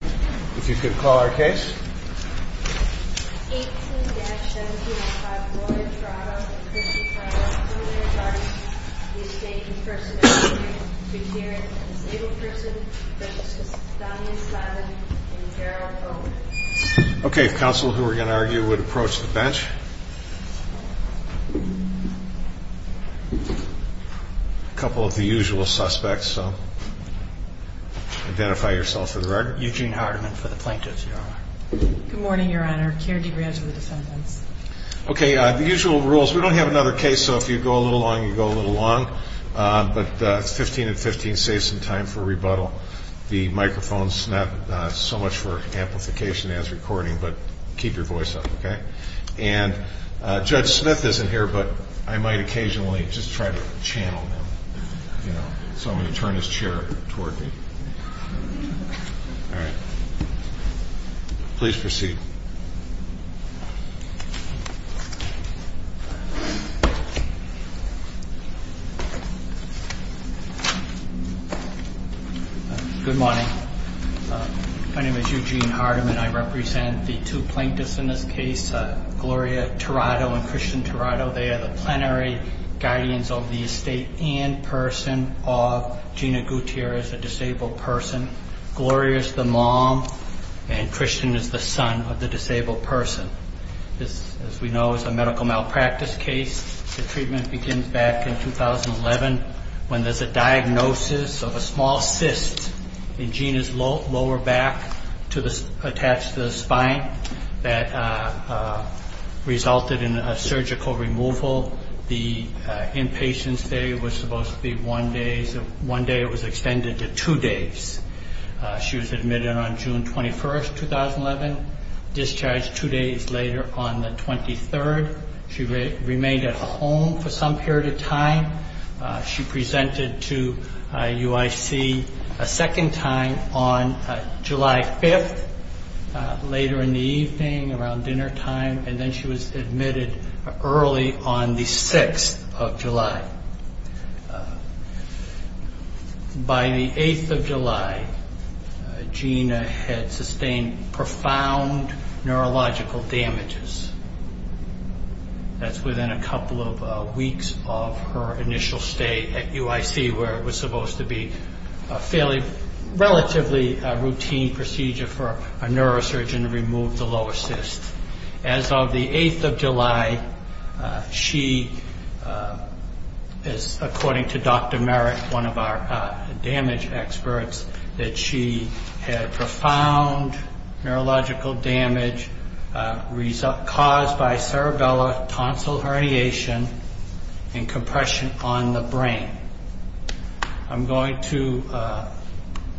If you could call our case. 18-17-5, Florida, Toronto, a person filed a similar charge. The estate in person at the time of hearing is a disabled person. Witnesses, Damian Slavin and Gerald Bowman. Okay, counsel who are going to argue would approach the bench. A couple of the usual suspects, so identify yourself for the record. Good morning, your honor. Okay, the usual rules. We don't have another case, so if you go a little long, you go a little long. But 15-15 saves some time for rebuttal. The microphone's not so much for amplification as recording, but keep your voice up, okay? And Judge Smith isn't here, but I might occasionally just try to channel him. So I'm going to turn his chair toward me. All right. Please proceed. Good morning. My name is Eugene Hardiman. I represent the two plaintiffs in this case, Gloria Tirado and Christian Tirado. They are the plenary guardians of the estate in person of Gina Gutierrez, a disabled person. Gloria is the mom, and Christian is the son of the disabled person. This, as we know, is a medical malpractice case. The treatment begins back in 2011 when there's a diagnosis of a small cyst in Gina's lower back attached to the spine that resulted in a surgical removal. The inpatient stay was supposed to be one day. One day it was extended to two days. She was admitted on June 21, 2011, discharged two days later on the 23rd. She presented to UIC a second time on July 5th, later in the evening around dinnertime, and then she was admitted early on the 6th of July. By the 8th of July, Gina had sustained profound neurological damages. That's within a couple of weeks of her initial stay at UIC, where it was supposed to be a relatively routine procedure for a neurosurgeon to remove the lower cyst. As of the 8th of July, she, according to Dr. Merrick, one of our damage experts, that she had profound neurological damage caused by cerebellar tonsil herniation and compression on the brain. I'm going to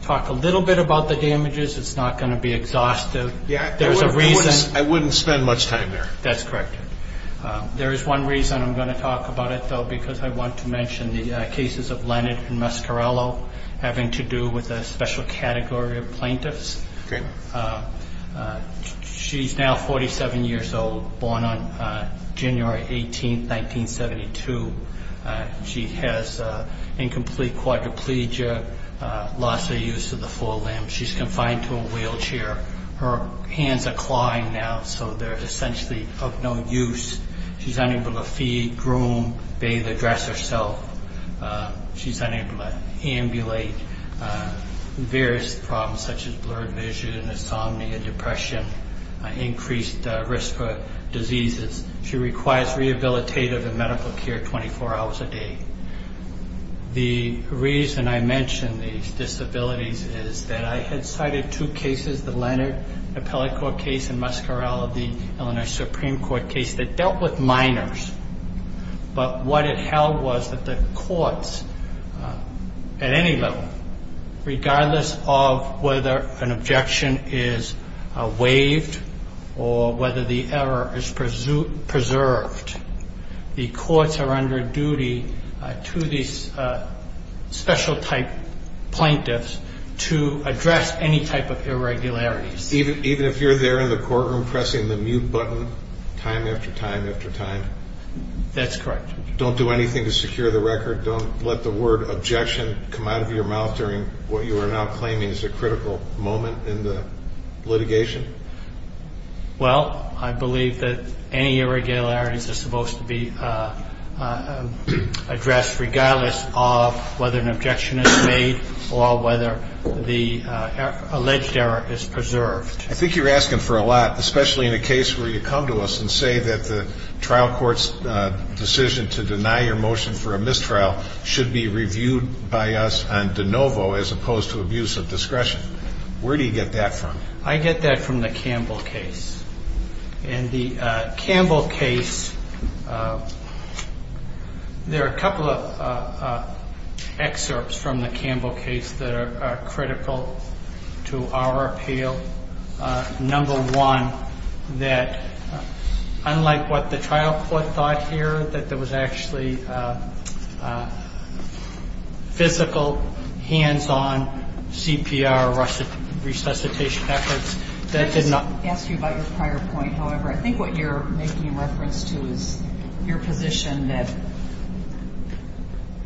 talk a little bit about the damages. It's not going to be exhaustive. There's a reason. I wouldn't spend much time there. That's correct. There is one reason I'm going to talk about it, though, because I want to mention the cases of Lennard and Mascarello having to do with a special category of plaintiffs. Okay. She's now 47 years old, born on January 18, 1972. She has incomplete quadriplegia, loss of use of the forelimbs. She's confined to a wheelchair. Her hands are clawing now, so they're essentially of no use. She's unable to feed, groom, bathe, or dress herself. She's unable to ambulate. Various problems such as blurred vision, insomnia, depression, increased risk for diseases. She requires rehabilitative and medical care 24 hours a day. The reason I mention these disabilities is that I had cited two cases, the Lennard appellate court case and Mascarello, the Illinois Supreme Court case, that dealt with minors. But what it held was that the courts, at any level, regardless of whether an objection is waived or whether the error is preserved, the courts are under duty to these special type plaintiffs to address any type of irregularities. Even if you're there in the courtroom pressing the mute button time after time after time? That's correct. Don't do anything to secure the record? Don't let the word objection come out of your mouth during what you are now claiming is a critical moment in the litigation? Well, I believe that any irregularities are supposed to be addressed, regardless of whether an objection is made or whether the alleged error is preserved. I think you're asking for a lot, especially in a case where you come to us and say that the trial court's decision to deny your motion for a mistrial should be reviewed by us on de novo as opposed to abuse of discretion. Where do you get that from? I get that from the Campbell case. In the Campbell case, there are a couple of excerpts from the Campbell case that are critical to our appeal. Number one, that unlike what the trial court thought here, that there was actually physical, hands-on CPR resuscitation efforts. Let me just ask you about your prior point, however. I think what you're making reference to is your position that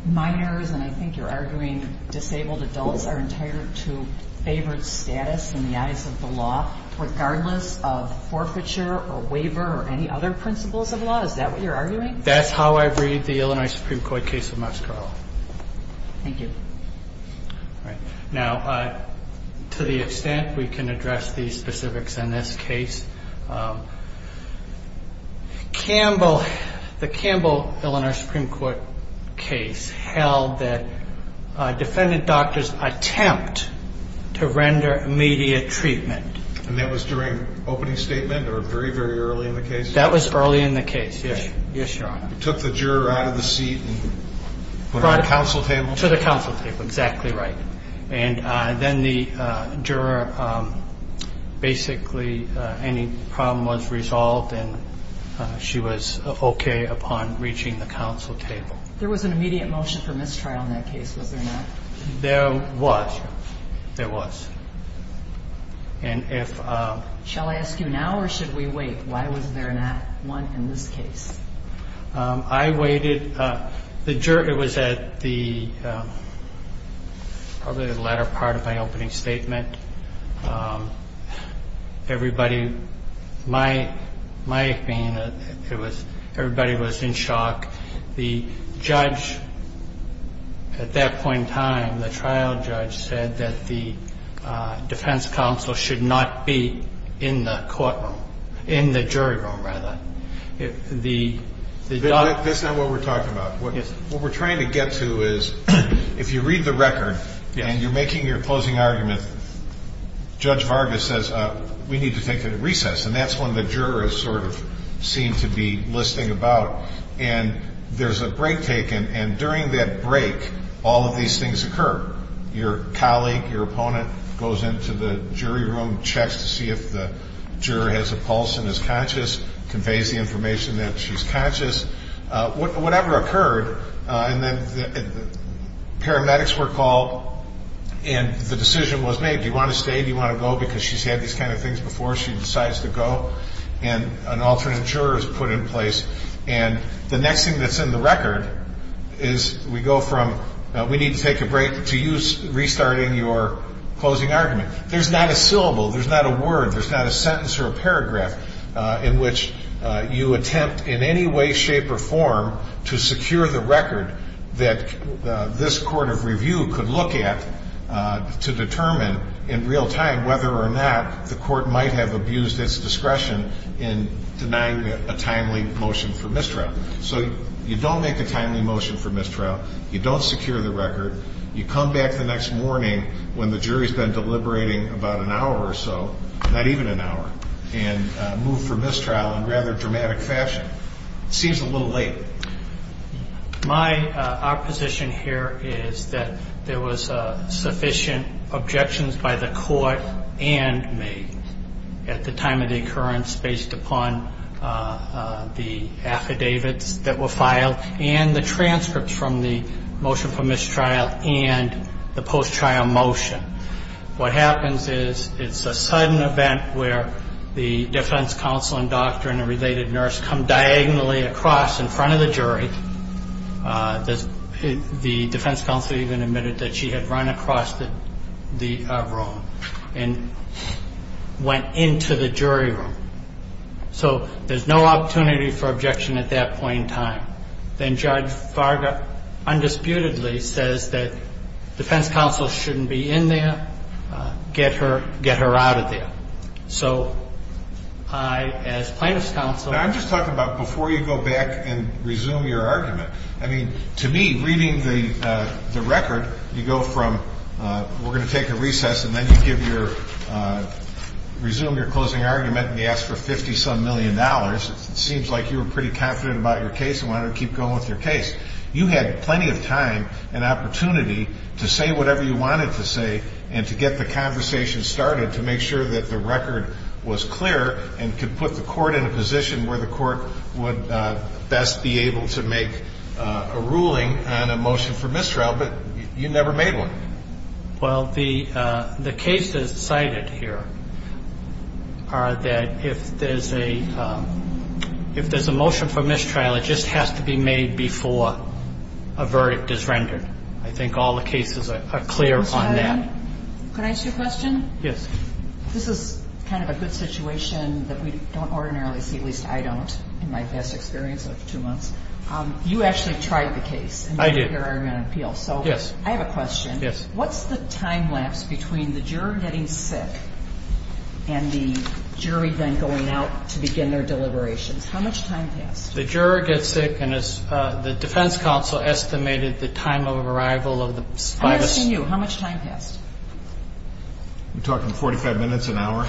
minors, and I think you're arguing disabled adults, are entitled to favored status in the eyes of the law, regardless of forfeiture or waiver or any other principles of law. Is that what you're arguing? That's how I read the Illinois Supreme Court case of Muscariel. Thank you. Now, to the extent we can address the specifics in this case, the Campbell-Illinois Supreme Court case held that defendant doctors attempt to render immediate treatment. And that was during opening statement or very, very early in the case? That was early in the case, yes, Your Honor. You took the juror out of the seat and put him on the counsel table? To the counsel table, exactly right. And then the juror basically, any problem was resolved, and she was okay upon reaching the counsel table. There was an immediate motion for mistrial in that case, was there not? There was. There was. And if ‑‑ Shall I ask you now or should we wait? Why was there not one in this case? I waited. It was at the ‑‑ probably the latter part of my opening statement. Everybody, my opinion, everybody was in shock. The judge at that point in time, the trial judge, said that the defense counsel should not be in the courtroom, in the jury room, rather. That's not what we're talking about. What we're trying to get to is if you read the record and you're making your closing argument, Judge Vargas says we need to take it at recess, and that's when the juror is sort of seen to be listing about. And there's a break taken, and during that break, all of these things occur. Your colleague, your opponent, goes into the jury room, checks to see if the juror has a pulse and is conscious, conveys the information that she's conscious. Whatever occurred, and then paramedics were called, and the decision was made. Do you want to stay? Do you want to go? Because she's had these kind of things before. She decides to go, and an alternate juror is put in place. And the next thing that's in the record is we go from we need to take a break to you restarting your closing argument. There's not a syllable. There's not a word. There's not a sentence or a paragraph in which you attempt in any way, shape, or form to secure the record that this court of review could look at to determine in real time whether or not the court might have abused its discretion in denying a timely motion for mistrial. So you don't make a timely motion for mistrial. You don't secure the record. You come back the next morning when the jury's been deliberating about an hour or so, not even an hour, and move for mistrial in rather dramatic fashion. It seems a little late. My opposition here is that there was sufficient objections by the court and made at the time of the occurrence based upon the affidavits that were filed and the transcripts from the motion for mistrial and the post-trial motion. What happens is it's a sudden event where the defense counsel and doctor and a related nurse come diagonally across in front of the jury. The defense counsel even admitted that she had run across the room and went into the jury room. So there's no opportunity for objection at that point in time. Then Judge Varga undisputedly says that defense counsel shouldn't be in there. Get her out of there. So I, as plaintiff's counsel- Now, I'm just talking about before you go back and resume your argument. I mean, to me, reading the record, you go from we're going to take a recess and then you resume your closing argument and you ask for $50-some million. It seems like you were pretty confident about your case and wanted to keep going with your case. You had plenty of time and opportunity to say whatever you wanted to say and to get the conversation started to make sure that the record was clear and could put the court in a position where the court would best be able to make a ruling on a motion for mistrial, but you never made one. Well, the cases cited here are that if there's a motion for mistrial, it just has to be made before a verdict is rendered. I think all the cases are clear on that. Can I ask you a question? Yes. This is kind of a good situation that we don't ordinarily see, at least I don't, in my best experience of two months. You actually tried the case. I did. So I have a question. Yes. What's the time lapse between the juror getting sick and the jury then going out to begin their deliberations? How much time passed? The juror gets sick and the defense counsel estimated the time of arrival of the spy. I'm asking you. How much time passed? You're talking 45 minutes, an hour?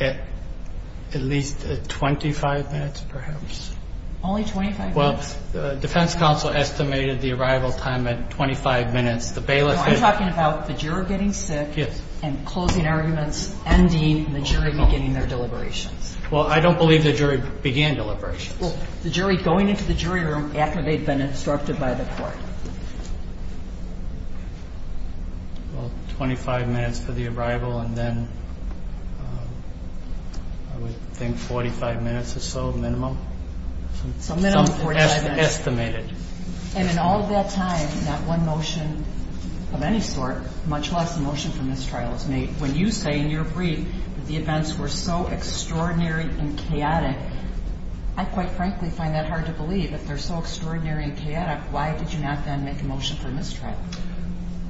At least 25 minutes, perhaps. Only 25 minutes? Well, the defense counsel estimated the arrival time at 25 minutes. No, I'm talking about the juror getting sick and closing arguments, ending, and the jury beginning their deliberations. Well, I don't believe the jury began deliberations. Well, the jury going into the jury room after they'd been instructed by the court. Well, 25 minutes for the arrival, and then I would think 45 minutes or so minimum. Minimum 45 minutes. Estimated. And in all that time, not one motion of any sort, much less a motion for mistrial, was made when you say in your brief that the events were so extraordinary and chaotic. I quite frankly find that hard to believe. If they're so extraordinary and chaotic, why did you not then make a motion for mistrial?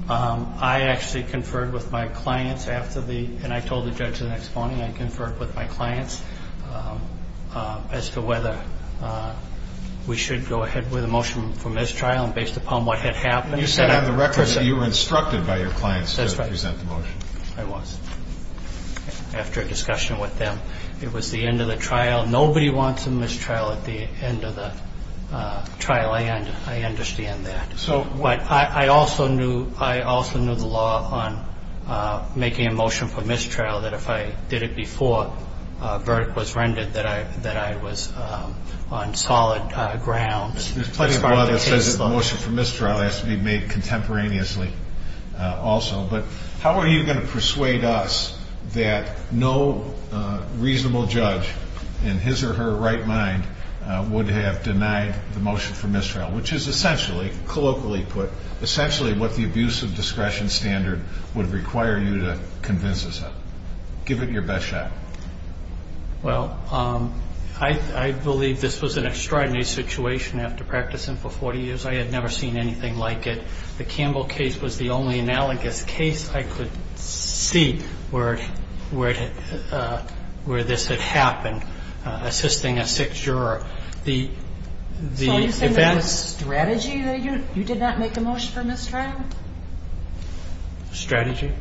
I actually conferred with my clients after the ‑‑ and I told the judge the next morning I conferred with my clients as to whether we should go ahead with a motion for mistrial and based upon what had happened. And on the record, you were instructed by your clients to present the motion. I was. After a discussion with them, it was the end of the trial. Nobody wants a mistrial at the end of the trial. I understand that. But I also knew the law on making a motion for mistrial, that if I did it before a verdict was rendered that I was on solid ground as part of the case. There's plenty of law that says a motion for mistrial has to be made contemporaneously also. But how are you going to persuade us that no reasonable judge in his or her right mind would have denied the motion for mistrial, which is essentially, colloquially put, essentially what the abuse of discretion standard would require you to convince us of. Give it your best shot. Well, I believe this was an extraordinary situation after practicing for 40 years. I had never seen anything like it. The Campbell case was the only analogous case I could see where this had happened, assisting a six-juror. So you're saying it was strategy that you did not make a motion for mistrial? Strategy?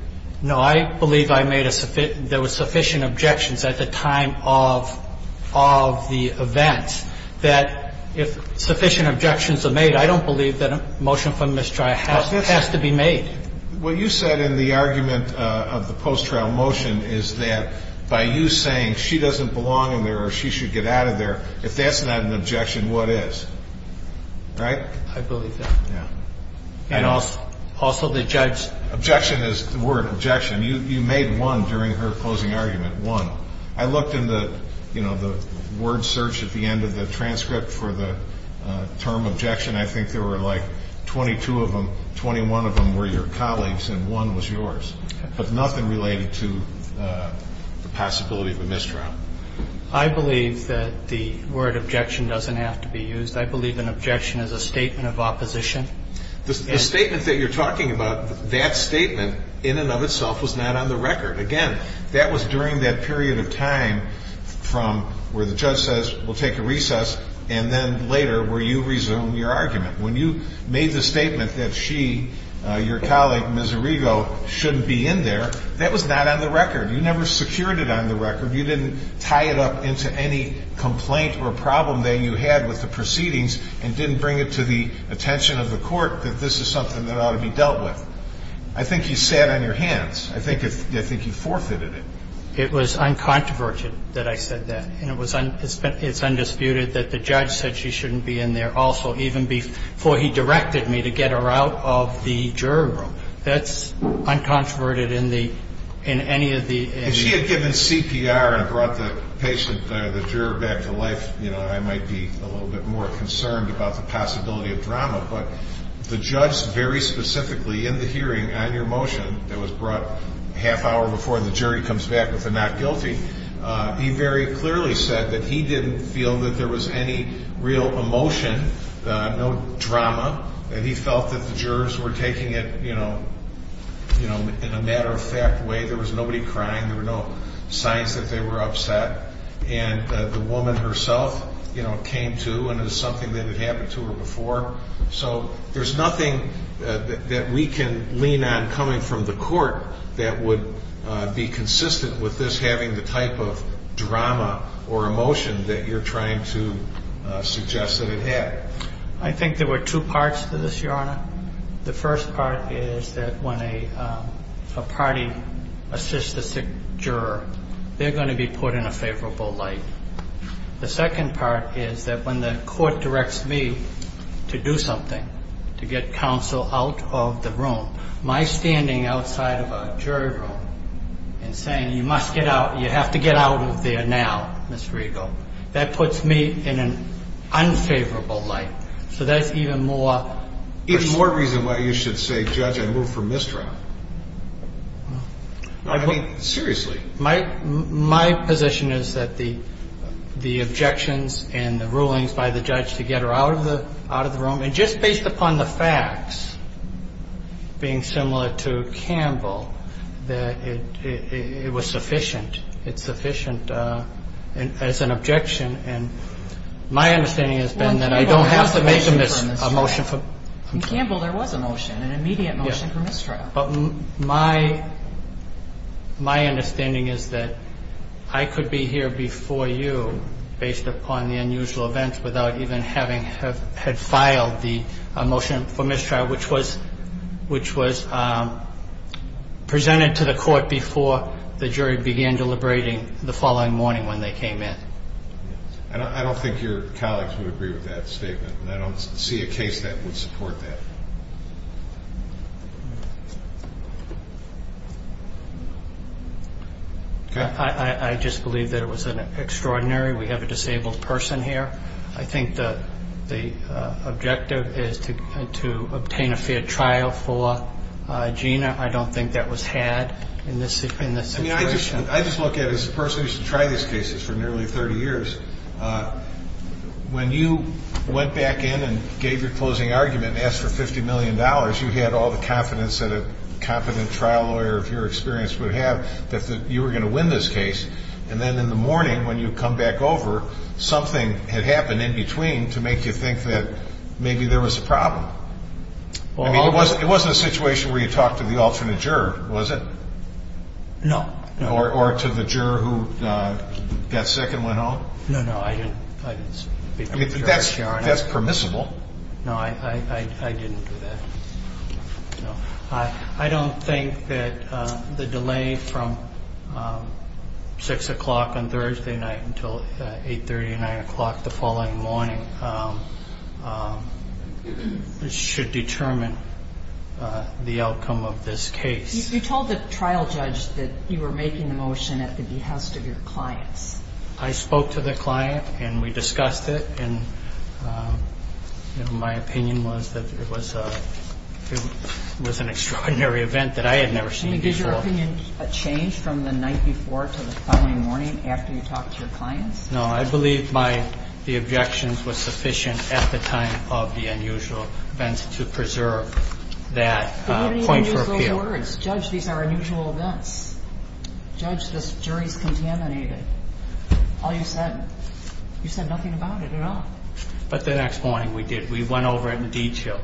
No, I believe I made a sufficient – there were sufficient objections at the time of the event that if sufficient objections are made, I don't believe that a motion for mistrial has to be made. What you said in the argument of the post-trial motion is that by you saying she doesn't belong in there or she should get out of there, if that's not an objection, what is? Right? I believe that. Yeah. And also the judge's – Objection is the word, objection. You made one during her closing argument, one. I looked in the, you know, the word search at the end of the transcript for the term objection. I think there were like 22 of them, 21 of them were your colleagues, and one was yours. Okay. But nothing related to the possibility of a mistrial. I believe that the word objection doesn't have to be used. I believe an objection is a statement of opposition. The statement that you're talking about, that statement in and of itself was not on the record. Again, that was during that period of time from where the judge says we'll take a recess and then later where you resume your argument. When you made the statement that she, your colleague Ms. Arrigo, shouldn't be in there, that was not on the record. You never secured it on the record. You didn't tie it up into any complaint or problem that you had with the proceedings and didn't bring it to the attention of the court that this is something that ought to be dealt with. I think you sat on your hands. I think you forfeited it. It was uncontroverted that I said that. And it's undisputed that the judge said she shouldn't be in there also, even before he directed me to get her out of the jury room. That's uncontroverted in any of the – If she had given CPR and brought the patient, the juror, back to life, I might be a little bit more concerned about the possibility of drama. But the judge very specifically in the hearing on your motion that was brought a half hour before and the jury comes back with a not guilty, he very clearly said that he didn't feel that there was any real emotion, no drama, and he felt that the jurors were taking it in a matter-of-fact way. There was nobody crying. There were no signs that they were upset. And the woman herself came to and it was something that had happened to her before. So there's nothing that we can lean on coming from the court that would be consistent with this having the type of drama or emotion that you're trying to suggest that it had. I think there were two parts to this, Your Honor. The first part is that when a party assists the juror, they're going to be put in a favorable light. The second part is that when the court directs me to do something, to get counsel out of the room, my standing outside of a jury room and saying, you must get out, you have to get out of there now, Ms. Regal, that puts me in an unfavorable light. So that's even more. There's more reason why you should say, Judge, I move for mistrial. I mean, seriously. My position is that the objections and the rulings by the judge to get her out of the room, and just based upon the facts being similar to Campbell, that it was sufficient. It's sufficient as an objection. My understanding has been that I don't have to make a motion for mistrial. In Campbell, there was a motion, an immediate motion for mistrial. But my understanding is that I could be here before you based upon the unusual events without even having had filed the motion for mistrial, which was presented to the court before the jury began deliberating the following morning when they came in. I don't think your colleagues would agree with that statement, and I don't see a case that would support that. I just believe that it was extraordinary. We have a disabled person here. I think the objective is to obtain a fair trial for Gina. I don't think that was had in this situation. I just look at it as a person who's tried these cases for nearly 30 years. When you went back in and gave your closing argument and asked for $50 million, you had all the confidence that a competent trial lawyer of your experience would have that you were going to win this case. And then in the morning when you come back over, something had happened in between to make you think that maybe there was a problem. I mean, it wasn't a situation where you talked to the alternate juror, was it? No. Or to the juror who got sick and went home? No, no, I didn't speak to the other juror. That's permissible. No, I didn't do that. I don't think that the delay from 6 o'clock on Thursday night until 8.30, 9 o'clock the following morning, should determine the outcome of this case. You told the trial judge that you were making the motion at the behest of your clients. I spoke to the client, and we discussed it, and my opinion was that it was an extraordinary event that I had never seen before. Can you give your opinion a change from the night before to the following morning after you talked to your clients? No, I believe the objections were sufficient at the time of the unusual events to preserve that point for appeal. In other words, judge, these are unusual events. Judge, this jury's contaminated. All you said, you said nothing about it at all. But the next morning we did. We went over it in detail.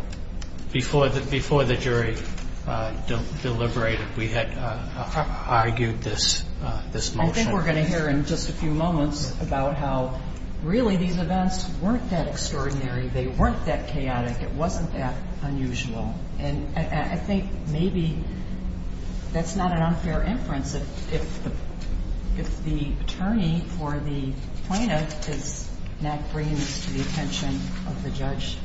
Before the jury deliberated, we had argued this motion. I think we're going to hear in just a few moments about how, really, these events weren't that extraordinary. They weren't that chaotic. It wasn't that unusual. And I think maybe that's not an unfair inference. If the attorney or the plaintiff is not bringing this to the attention of the judge,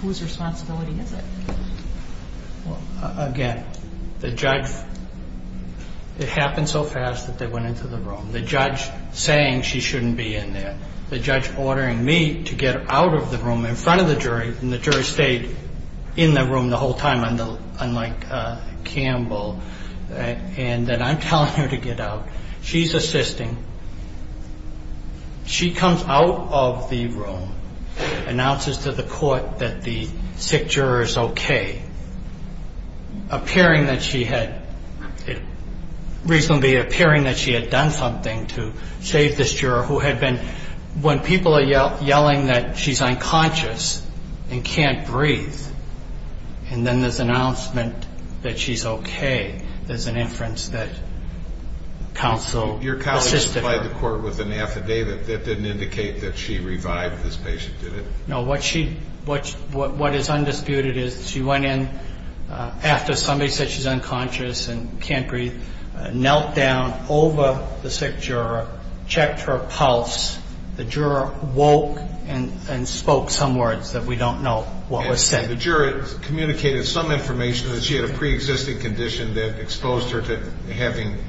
whose responsibility is it? Again, the judge, it happened so fast that they went into the room. The judge saying she shouldn't be in there. The judge ordering me to get out of the room in front of the jury, and the jury stayed in the room the whole time, unlike Campbell, and that I'm telling her to get out. She's assisting. She comes out of the room, announces to the court that the sick juror is okay, reasonably appearing that she had done something to save this juror, who had been, when people are yelling that she's unconscious and can't breathe, and then this announcement that she's okay, there's an inference that counsel assisted her. Your colleague supplied the court with an affidavit that didn't indicate that she revived this patient, did it? No. What is undisputed is she went in after somebody said she's unconscious and can't breathe, knelt down over the sick juror, checked her pulse. The juror woke and spoke some words that we don't know what was said. And the juror communicated some information that she had a preexisting condition that exposed her to having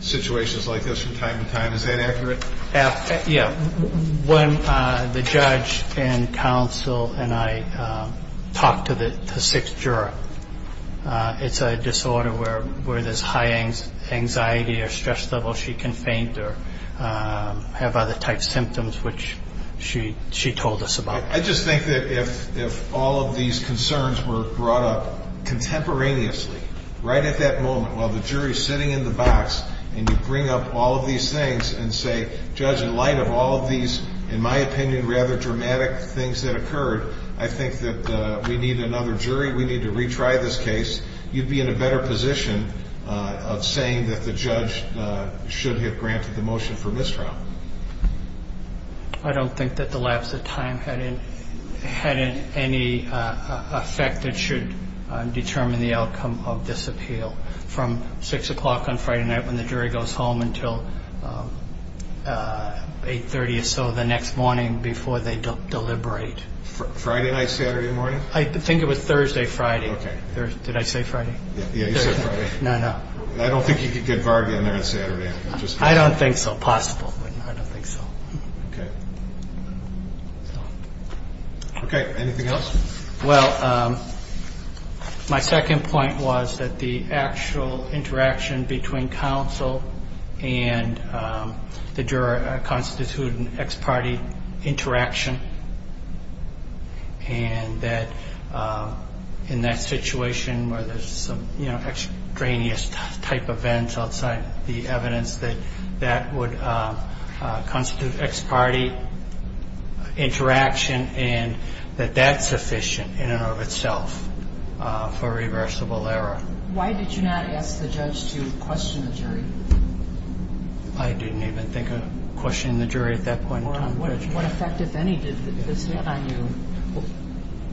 situations like this from time to time. Is that accurate? Yeah. When the judge and counsel and I talked to the sick juror, it's a disorder where there's high anxiety or stress level, she can faint or have other types of symptoms, which she told us about. I just think that if all of these concerns were brought up contemporaneously, right at that moment, while the jury is sitting in the box, and you bring up all of these things and say, judge, in light of all of these, in my opinion, rather dramatic things that occurred, I think that we need another jury, we need to retry this case, you'd be in a better position of saying that the judge should have granted the motion for mistrial. I don't think that the lapse of time had any effect that should determine the outcome of this appeal. So from 6 o'clock on Friday night when the jury goes home until 8.30 or so the next morning before they deliberate. Friday night, Saturday morning? I think it was Thursday, Friday. Did I say Friday? Yeah, you said Friday. No, no. I don't think you could get Varga in there on Saturday. I don't think so. Possible. I don't think so. Okay. Okay. Anything else? Well, my second point was that the actual interaction between counsel and the juror constituted an ex parte interaction, and that in that situation where there's some extraneous type of events outside the evidence, that would constitute ex parte interaction, and that that's sufficient in and of itself for reversible error. Why did you not ask the judge to question the jury? I didn't even think of questioning the jury at that point in time. What effect, if any, did this have on you,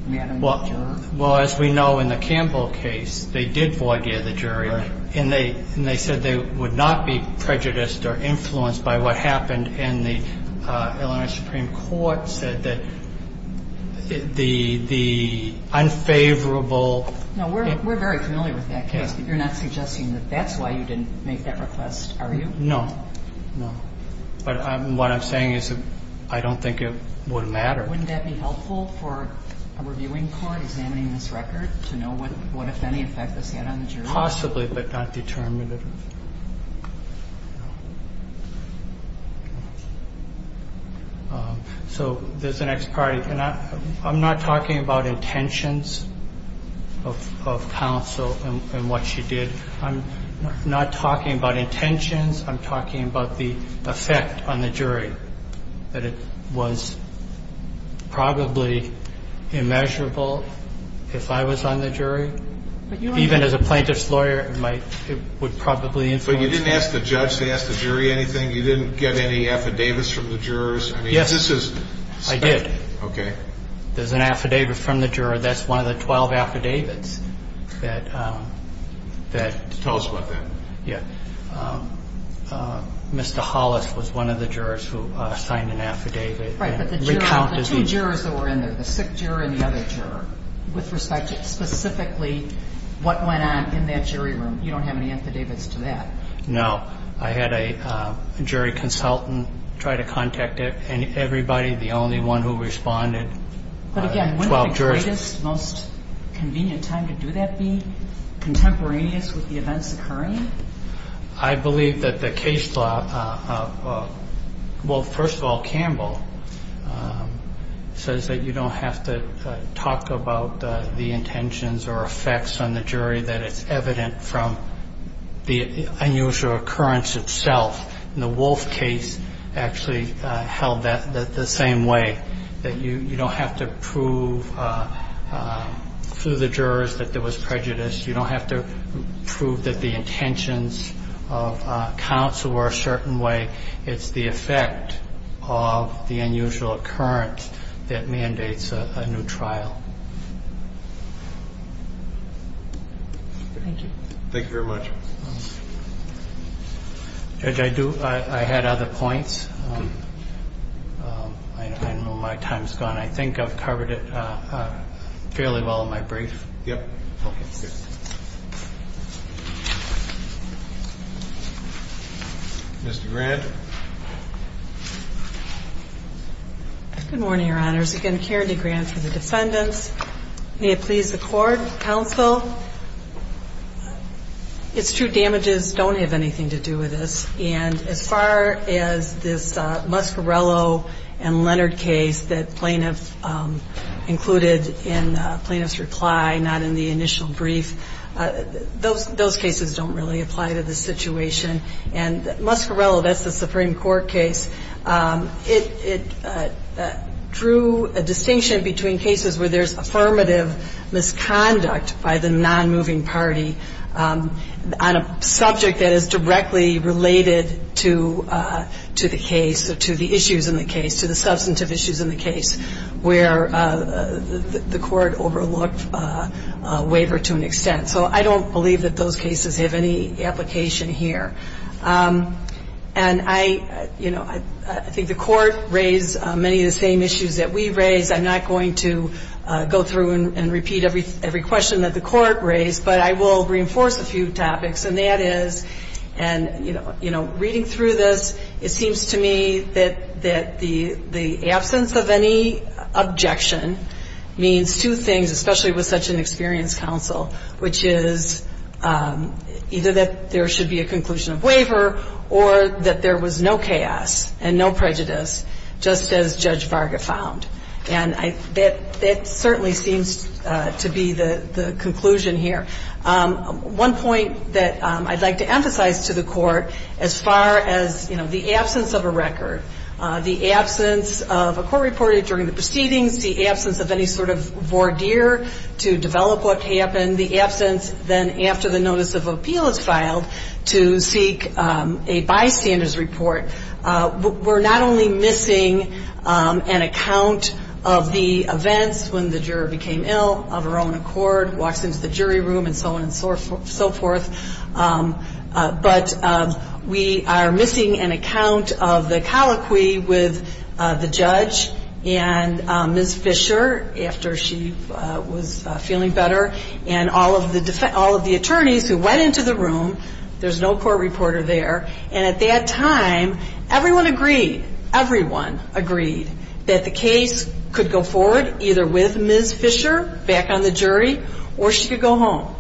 Madam Juror? Well, as we know in the Campbell case, they did void the other jury. Right. And they said they would not be prejudiced or influenced by what happened, and the Illinois Supreme Court said that the unfavorable. No, we're very familiar with that case. You're not suggesting that that's why you didn't make that request, are you? No, no. But what I'm saying is I don't think it would matter. Wouldn't that be helpful for a reviewing court examining this record to know what, if any, effect this had on the jury? Possibly, but not determinative. So there's an ex parte. I'm not talking about intentions of counsel and what she did. I'm not talking about intentions. I'm talking about the effect on the jury, that it was probably immeasurable if I was on the jury. Even as a plaintiff's lawyer, it would probably influence me. But you didn't ask the judge to ask the jury anything? You didn't get any affidavits from the jurors? Yes. I mean, this is special. I did. Okay. There's an affidavit from the juror. That's one of the 12 affidavits that that. Tell us about that. Yeah. Mr. Hollis was one of the jurors who signed an affidavit. Right. The two jurors that were in there, the sick juror and the other juror, with respect to specifically what went on in that jury room. You don't have any affidavits to that? No. I had a jury consultant try to contact everybody, the only one who responded. But, again, when would the greatest, most convenient time to do that be, contemporaneous with the events occurring? I believe that the case law, well, first of all, the intentions or effects on the jury that it's evident from the unusual occurrence itself. And the Wolf case actually held that the same way, that you don't have to prove through the jurors that there was prejudice. You don't have to prove that the intentions of counsel were a certain way. It's the effect of the unusual occurrence that mandates a new trial. Thank you. Thank you very much. Judge, I do. I had other points. Okay. I know my time's gone. I think I've covered it fairly well in my brief. Yep. Okay. Mr. Grant. Good morning, Your Honors. Again, Karen DeGrant for the defendants. May it please the Court, counsel, it's true damages don't have anything to do with this. And as far as this Muscarello and Leonard case that plaintiff included in plaintiff's reply, not in the initial brief, those cases don't really apply to the situation. And Muscarello, that's the Supreme Court case, it drew a distinction between cases where there's affirmative misconduct by the non-moving party on a subject that is directly related to the case, to the issues in the case, to the substantive issues in the case, where the court overlooked a waiver to an extent. So I don't believe that those cases have any application here. And I, you know, I think the court raised many of the same issues that we raised. I'm not going to go through and repeat every question that the court raised, but I will reinforce a few topics. And that is, and, you know, reading through this, it seems to me that the absence of any objection means two things, especially with such an experienced counsel, which is either that there should be a conclusion of waiver or that there was no chaos and no prejudice, just as Judge Varga found. And that certainly seems to be the conclusion here. One point that I'd like to emphasize to the court, as far as, you know, the absence of a record, the absence of a court reporter during the proceedings, the absence of any sort of voir dire to develop what happened, the absence then after the notice of appeal is filed to seek a bystander's report. We're not only missing an account of the events when the juror became ill of her own accord, walks into the jury room and so on and so forth, but we are missing an account of the colloquy with the judge and Ms. Fisher after she was feeling better and all of the attorneys who went into the room, there's no court reporter there, and at that time everyone agreed, everyone agreed, that the case could go forward either with Ms. Fisher back on the jury or she could go home.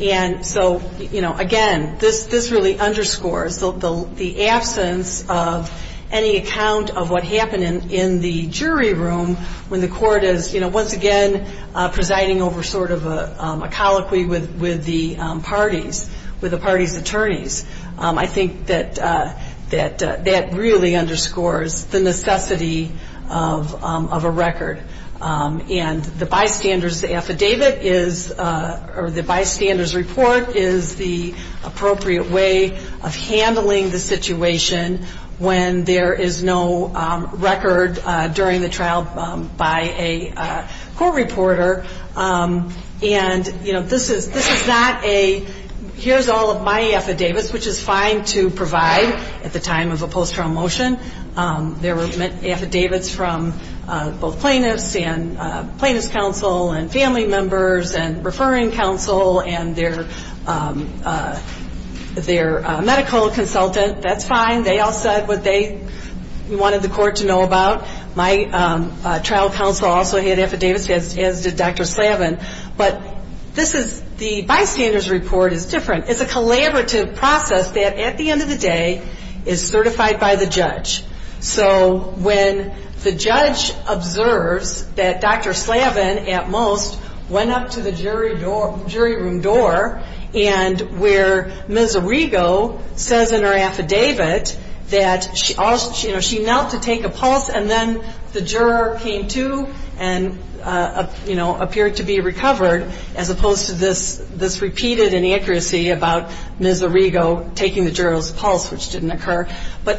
And so, you know, again, this really underscores the absence of any account of what happened in the jury room when the court is, you know, once again presiding over sort of a colloquy with the parties, with the party's attorneys. I think that that really underscores the necessity of a record. And the bystander's affidavit is, or the bystander's report is the appropriate way of handling the situation when there is no record during the trial by a court reporter. And, you know, this is not a here's all of my affidavits, which is fine to provide at the time of a post-trial motion. There were affidavits from both plaintiffs and plaintiff's counsel and family members and referring counsel and their medical consultant. That's fine. They all said what they wanted the court to know about. My trial counsel also had affidavits as did Dr. Slavin. But this is, the bystander's report is different. It's a collaborative process that at the end of the day is certified by the judge. So when the judge observes that Dr. Slavin at most went up to the jury room door and where Ms. Arrigo says in her affidavit that, you know, she knelt to take a pulse and then the juror came to and, you know, appeared to be recovered as opposed to this repeated inaccuracy about Ms. Arrigo taking the juror's pulse, which didn't occur.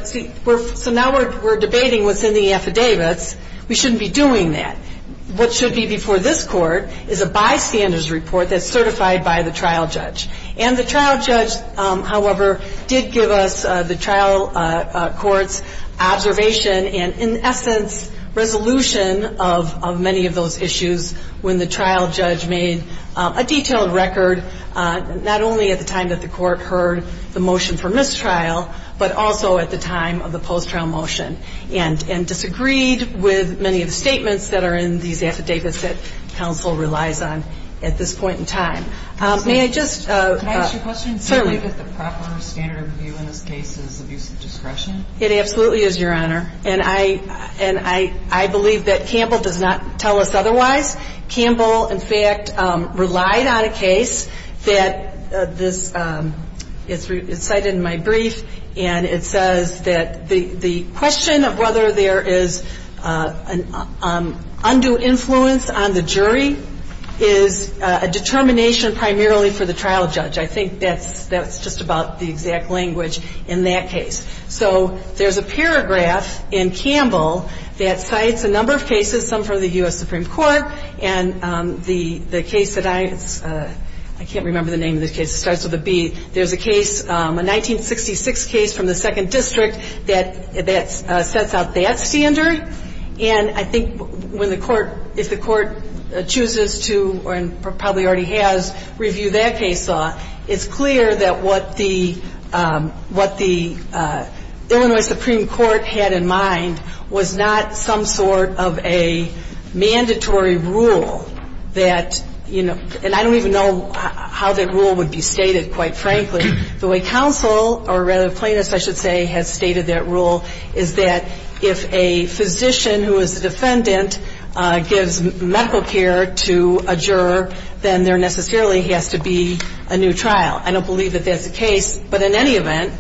So now we're debating what's in the affidavits. We shouldn't be doing that. What should be before this court is a bystander's report that's certified by the trial judge. And the trial judge, however, did give us the trial court's observation and in essence resolution of many of those issues when the trial judge made a detailed record, not only at the time that the court heard the motion for mistrial, but also at the time of the post-trial motion and disagreed with many of the statements that are in these affidavits that counsel relies on at this point in time. May I just, certainly. It absolutely is, Your Honor. And I believe that Campbell does not tell us otherwise. Campbell, in fact, relied on a case that this is cited in my brief and it says that the question of whether there is undue influence on the jury is a determination primarily for the trial judge. I think that's just about the exact language in that case. So there's a paragraph in Campbell that cites a number of cases, some from the U.S. Supreme Court, and the case that I, I can't remember the name of this case. It starts with a B. There's a case, a 1966 case from the 2nd District that sets out that standard. And I think when the court, if the court chooses to, or probably already has, review that case law, it's clear that what the, what the Illinois Supreme Court had in mind was not some sort of a mandatory rule that, you know, and I don't even know how that rule would be stated, quite frankly. The way counsel, or rather plaintiffs, I should say, has stated that rule is that if a physician who is a defendant gives medical care to a juror, then there necessarily has to be a new trial. I don't believe that that's the case, but in any event,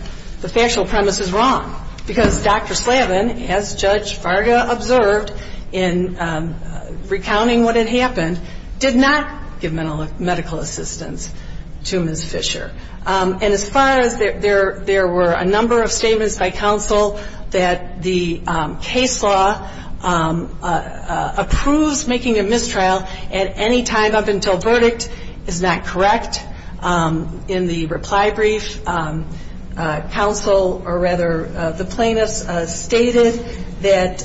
the factual premise is wrong, because Dr. Slavin, as Judge Varga observed in recounting what had happened, did not give medical assistance to Ms. Fisher. And as far as there were a number of statements by counsel that the case law approves making a mistrial at any time up until verdict is not correct, in the reply brief, counsel, or rather the plaintiffs, stated that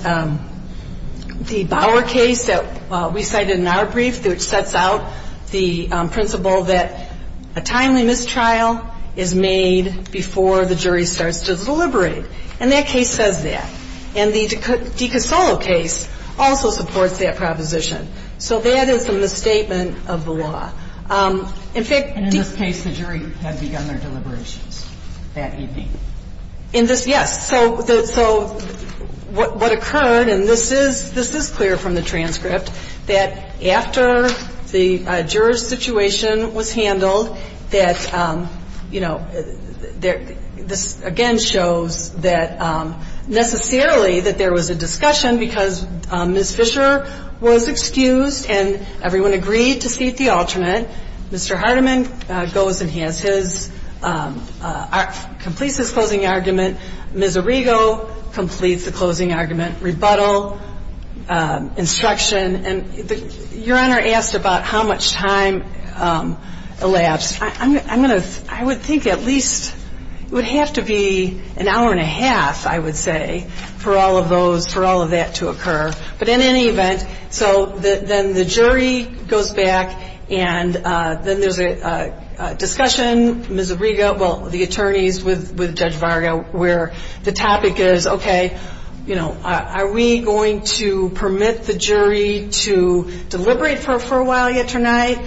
the Bower case that we cited in our brief, which sets out the principle that a timely mistrial is made before the jury starts to deliberate. And that case says that. And the DiCasolo case also supports that proposition. So that is a misstatement of the law. In fact, And in this case, the jury had begun their deliberations that evening. In this, yes. So what occurred, and this is clear from the transcript, that after the juror's situation was handled, that, you know, this again shows that necessarily that there was a discussion because Ms. Fisher was excused and everyone agreed to seat the alternate. Mr. Hardiman goes and he has his, completes his closing argument. Ms. Arrigo completes the closing argument. Rebuttal. Instruction. And Your Honor asked about how much time elapsed. I'm going to, I would think at least it would have to be an hour and a half, I would say, for all of those, for all of that to occur. But in any event, so then the jury goes back and then there's a discussion, Ms. Arrigo, well, the attorneys with Judge Varga, where the topic is, okay, you know, are we going to permit the jury to deliberate for a while yet tonight?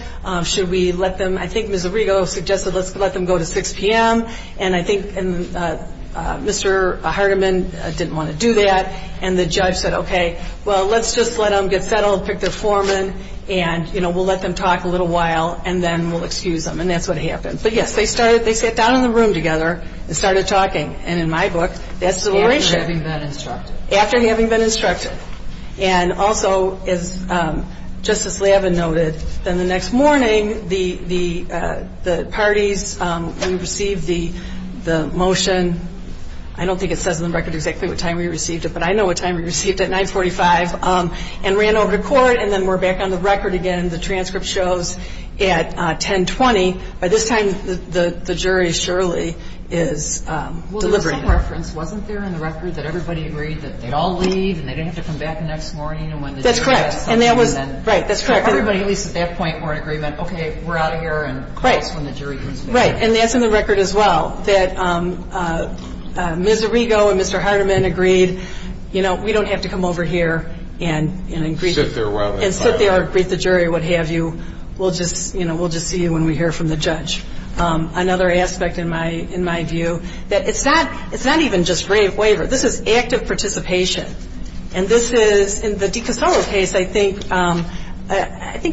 Should we let them, I think Ms. Arrigo suggested, let's let them go to 6 p.m. And I think Mr. Hardiman didn't want to do that. And the judge said, okay, well, let's just let them get settled, pick their foreman. And, you know, we'll let them talk a little while and then we'll excuse them. And that's what happened. But yes, they started, they sat down in the room together and started talking. And in my book, that's the oration. After having been instructed. And also, as Justice Lavin noted, then the next morning, the parties, we received the motion. I don't think it says on the record exactly what time we received it, but I know what time we received it, 945, and ran over to court. And then we're back on the record again. The transcript shows at 1020. By this time, the jury surely is delivering. Wasn't there in the record that everybody agreed that they'd all leave and they didn't have to come back the next morning? That's correct. And that was, right, that's correct. Everybody, at least at that point, were in agreement. Okay, we're out of here. Right. And that's in the record as well, that Ms. Arrigo and Mr. Hardiman agreed, you know, we don't have to come over here and sit there and greet the jury or what have you. We'll just, you know, we'll just see you when we hear from the judge. Another aspect, in my view, that it's not even just waiver. This is active participation. And this is, in the DiCosolo case, I think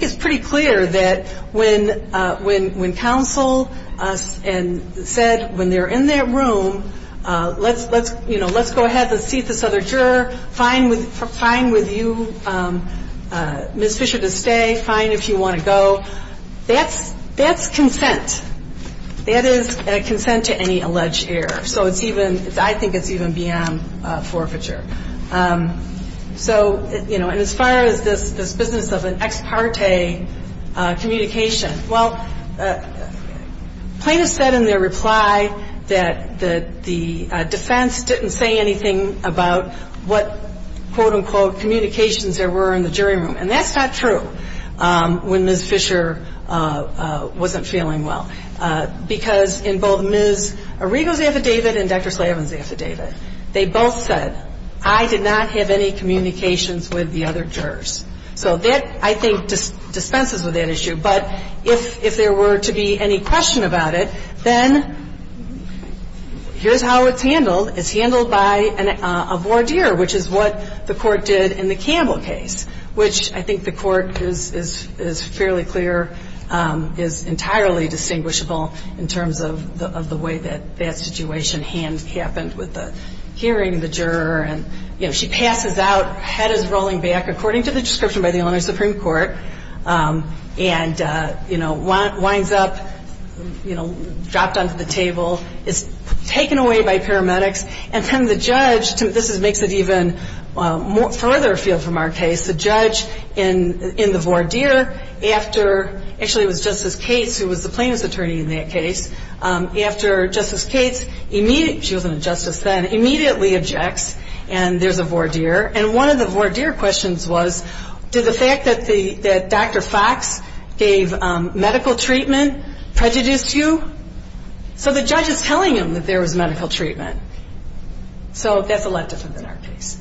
it's pretty clear that when counsel said, when they're in their room, let's go ahead, let's seat this other juror. Fine with you, Ms. Fisher, to stay. Fine if you want to go. That's consent. That is consent to any alleged error. So it's even, I think it's even beyond forfeiture. So, you know, and as far as this business of an ex parte communication, well, plaintiffs said in their reply that the defense didn't say anything about what, quote, unquote, communications there were in the jury room. And that's not true when Ms. Fisher wasn't feeling well. Because in both Ms. Arrigo's affidavit and Dr. Slavin's affidavit, they both said, I did not have any communications with the other jurors. So that, I think, dispenses with that issue. But if there were to be any question about it, then here's how it's handled. It's handled by a voir dire, which is what the court did in the Campbell case, which I think the court is fairly clear is entirely distinguishable in terms of the way that that situation happened with the hearing of the juror. And, you know, she passes out, head is rolling back, according to the description by the Illinois Supreme Court, and, you know, winds up, you know, dropped onto the table, is taken away by paramedics, and then the judge, this makes it even further afield from our case, the judge in the voir dire after, actually it was Justice Cates who was the plaintiff's attorney in that case, after Justice Cates immediately, she wasn't a justice then, immediately objects, and there's a voir dire. And one of the voir dire questions was, did the fact that Dr. Fox gave medical treatment prejudice you? So the judge is telling him that there was medical treatment. So that's a lot different than our case.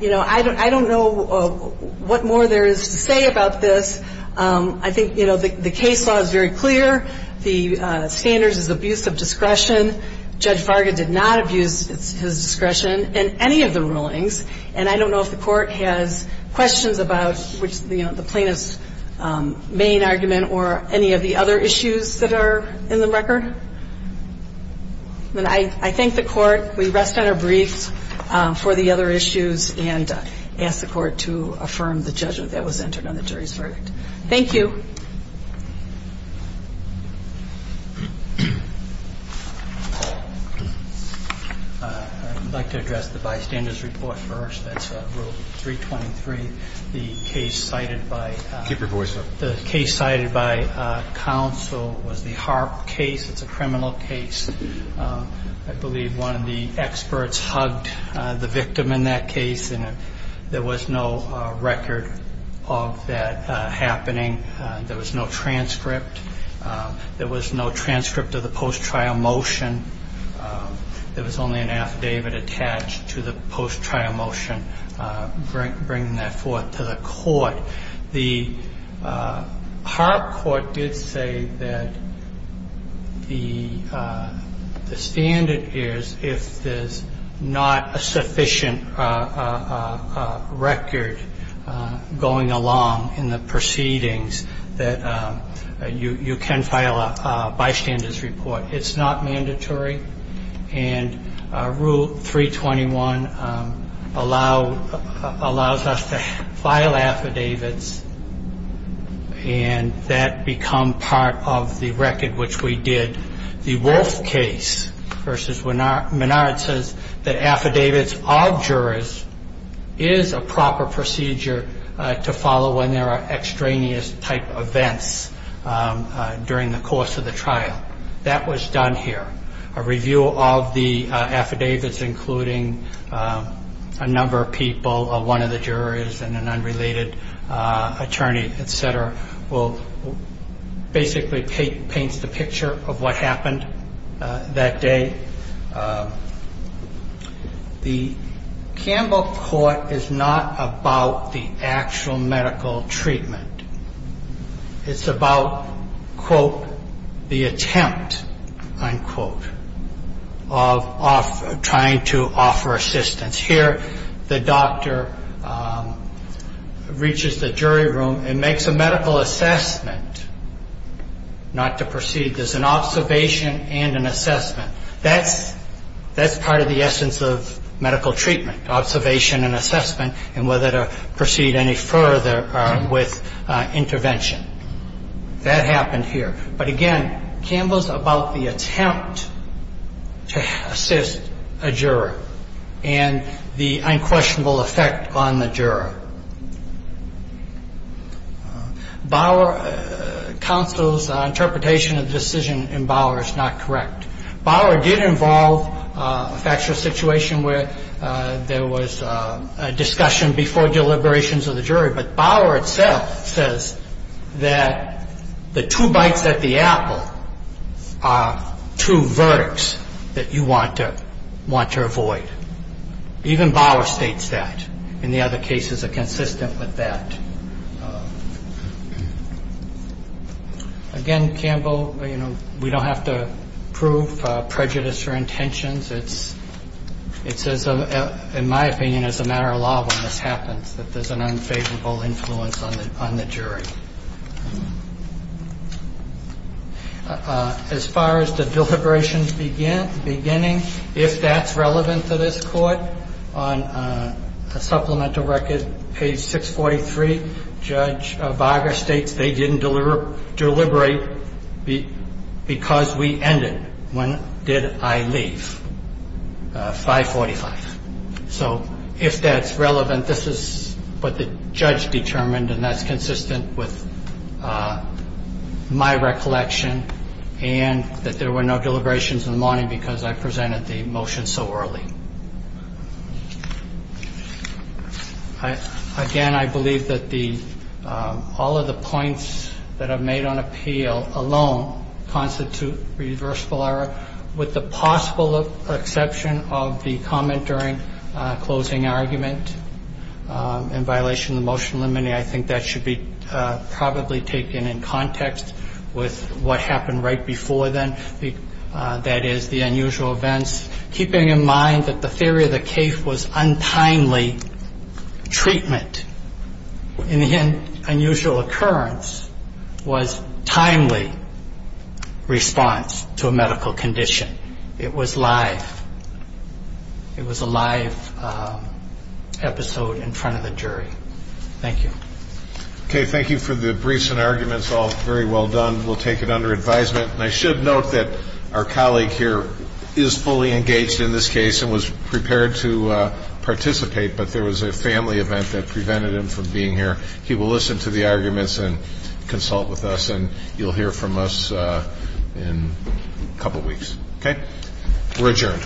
You know, I don't know what more there is to say about this. I think, you know, the case law is very clear. The standards is abuse of discretion. Judge Varga did not abuse his discretion in any of the rulings, and I don't know if the court has questions about the plaintiff's main argument or any of the other issues that are in the record. I thank the court. We rest on our briefs for the other issues and ask the court to affirm the judgment that was entered on the jury's verdict. Thank you. I'd like to address the bystander's report first. That's Rule 323. The case cited by counsel was the Harp case. It's a criminal case. I believe one of the experts hugged the victim in that case, and there was no record of that happening. There was no transcript of that. There was no transcript. There was no transcript of the post-trial motion. There was only an affidavit attached to the post-trial motion bringing that forth to the court. The Harp court did say that the standard is if there's not a sufficient record going along in the proceedings, that you can file a bystander's report. It's not mandatory. And Rule 321 allows us to file affidavits, and that becomes part of the record which we did. The Wolfe case versus Menard says that affidavits of jurors is a proper procedure to follow when there are extraneous-type events during the course of the trial. That was done here. A review of the affidavits, including a number of people, one of the jurors and an unrelated attorney, et cetera, basically paints the picture of what happened that day. The Campbell court is not about the actual medical treatment. It's about, quote, the attempt, unquote, of trying to offer assistance. Here the doctor reaches the jury room and makes a medical assessment not to proceed. There's an observation and an assessment. That's part of the essence of medical treatment, observation and assessment, and whether to proceed any further with intervention. That happened here. But, again, Campbell's about the attempt to assist a juror. And the unquestionable effect on the juror. Bauer counsel's interpretation of the decision in Bauer is not correct. Bauer did involve a factual situation where there was a discussion before deliberations of the jury, but Bauer itself says that the two bites at the apple are two verdicts that you want to avoid. Even Bauer states that. And the other cases are consistent with that. Again, Campbell, you know, we don't have to prove prejudice or intentions. It's, in my opinion, as a matter of law when this happens, that there's an unfavorable influence on the jury. As far as the deliberations beginning, if that's relevant to this court, on a supplemental record, page 643, Bauer states they didn't deliberate because we ended when did I leave, 545. So if that's relevant, this is what the judge determined, and that's consistent with my recollection, and that there were no deliberations in the morning because I presented the motion so early. Thank you. Again, I believe that all of the points that are made on appeal alone constitute reversible error, with the possible exception of the comment during closing argument in violation of the motion limiting. I think that should be probably taken in context with what happened right before then, that is, the unusual events. Keeping in mind that the theory of the case was untimely treatment, and the unusual occurrence was timely response to a medical condition. It was live. It was a live episode in front of the jury. Thank you. Okay. Thank you for the briefs and arguments, all very well done. We'll take it under advisement. And I should note that our colleague here is fully engaged in this case and was prepared to participate, but there was a family event that prevented him from being here. He will listen to the arguments and consult with us, and you'll hear from us in a couple weeks. Okay? We're adjourned.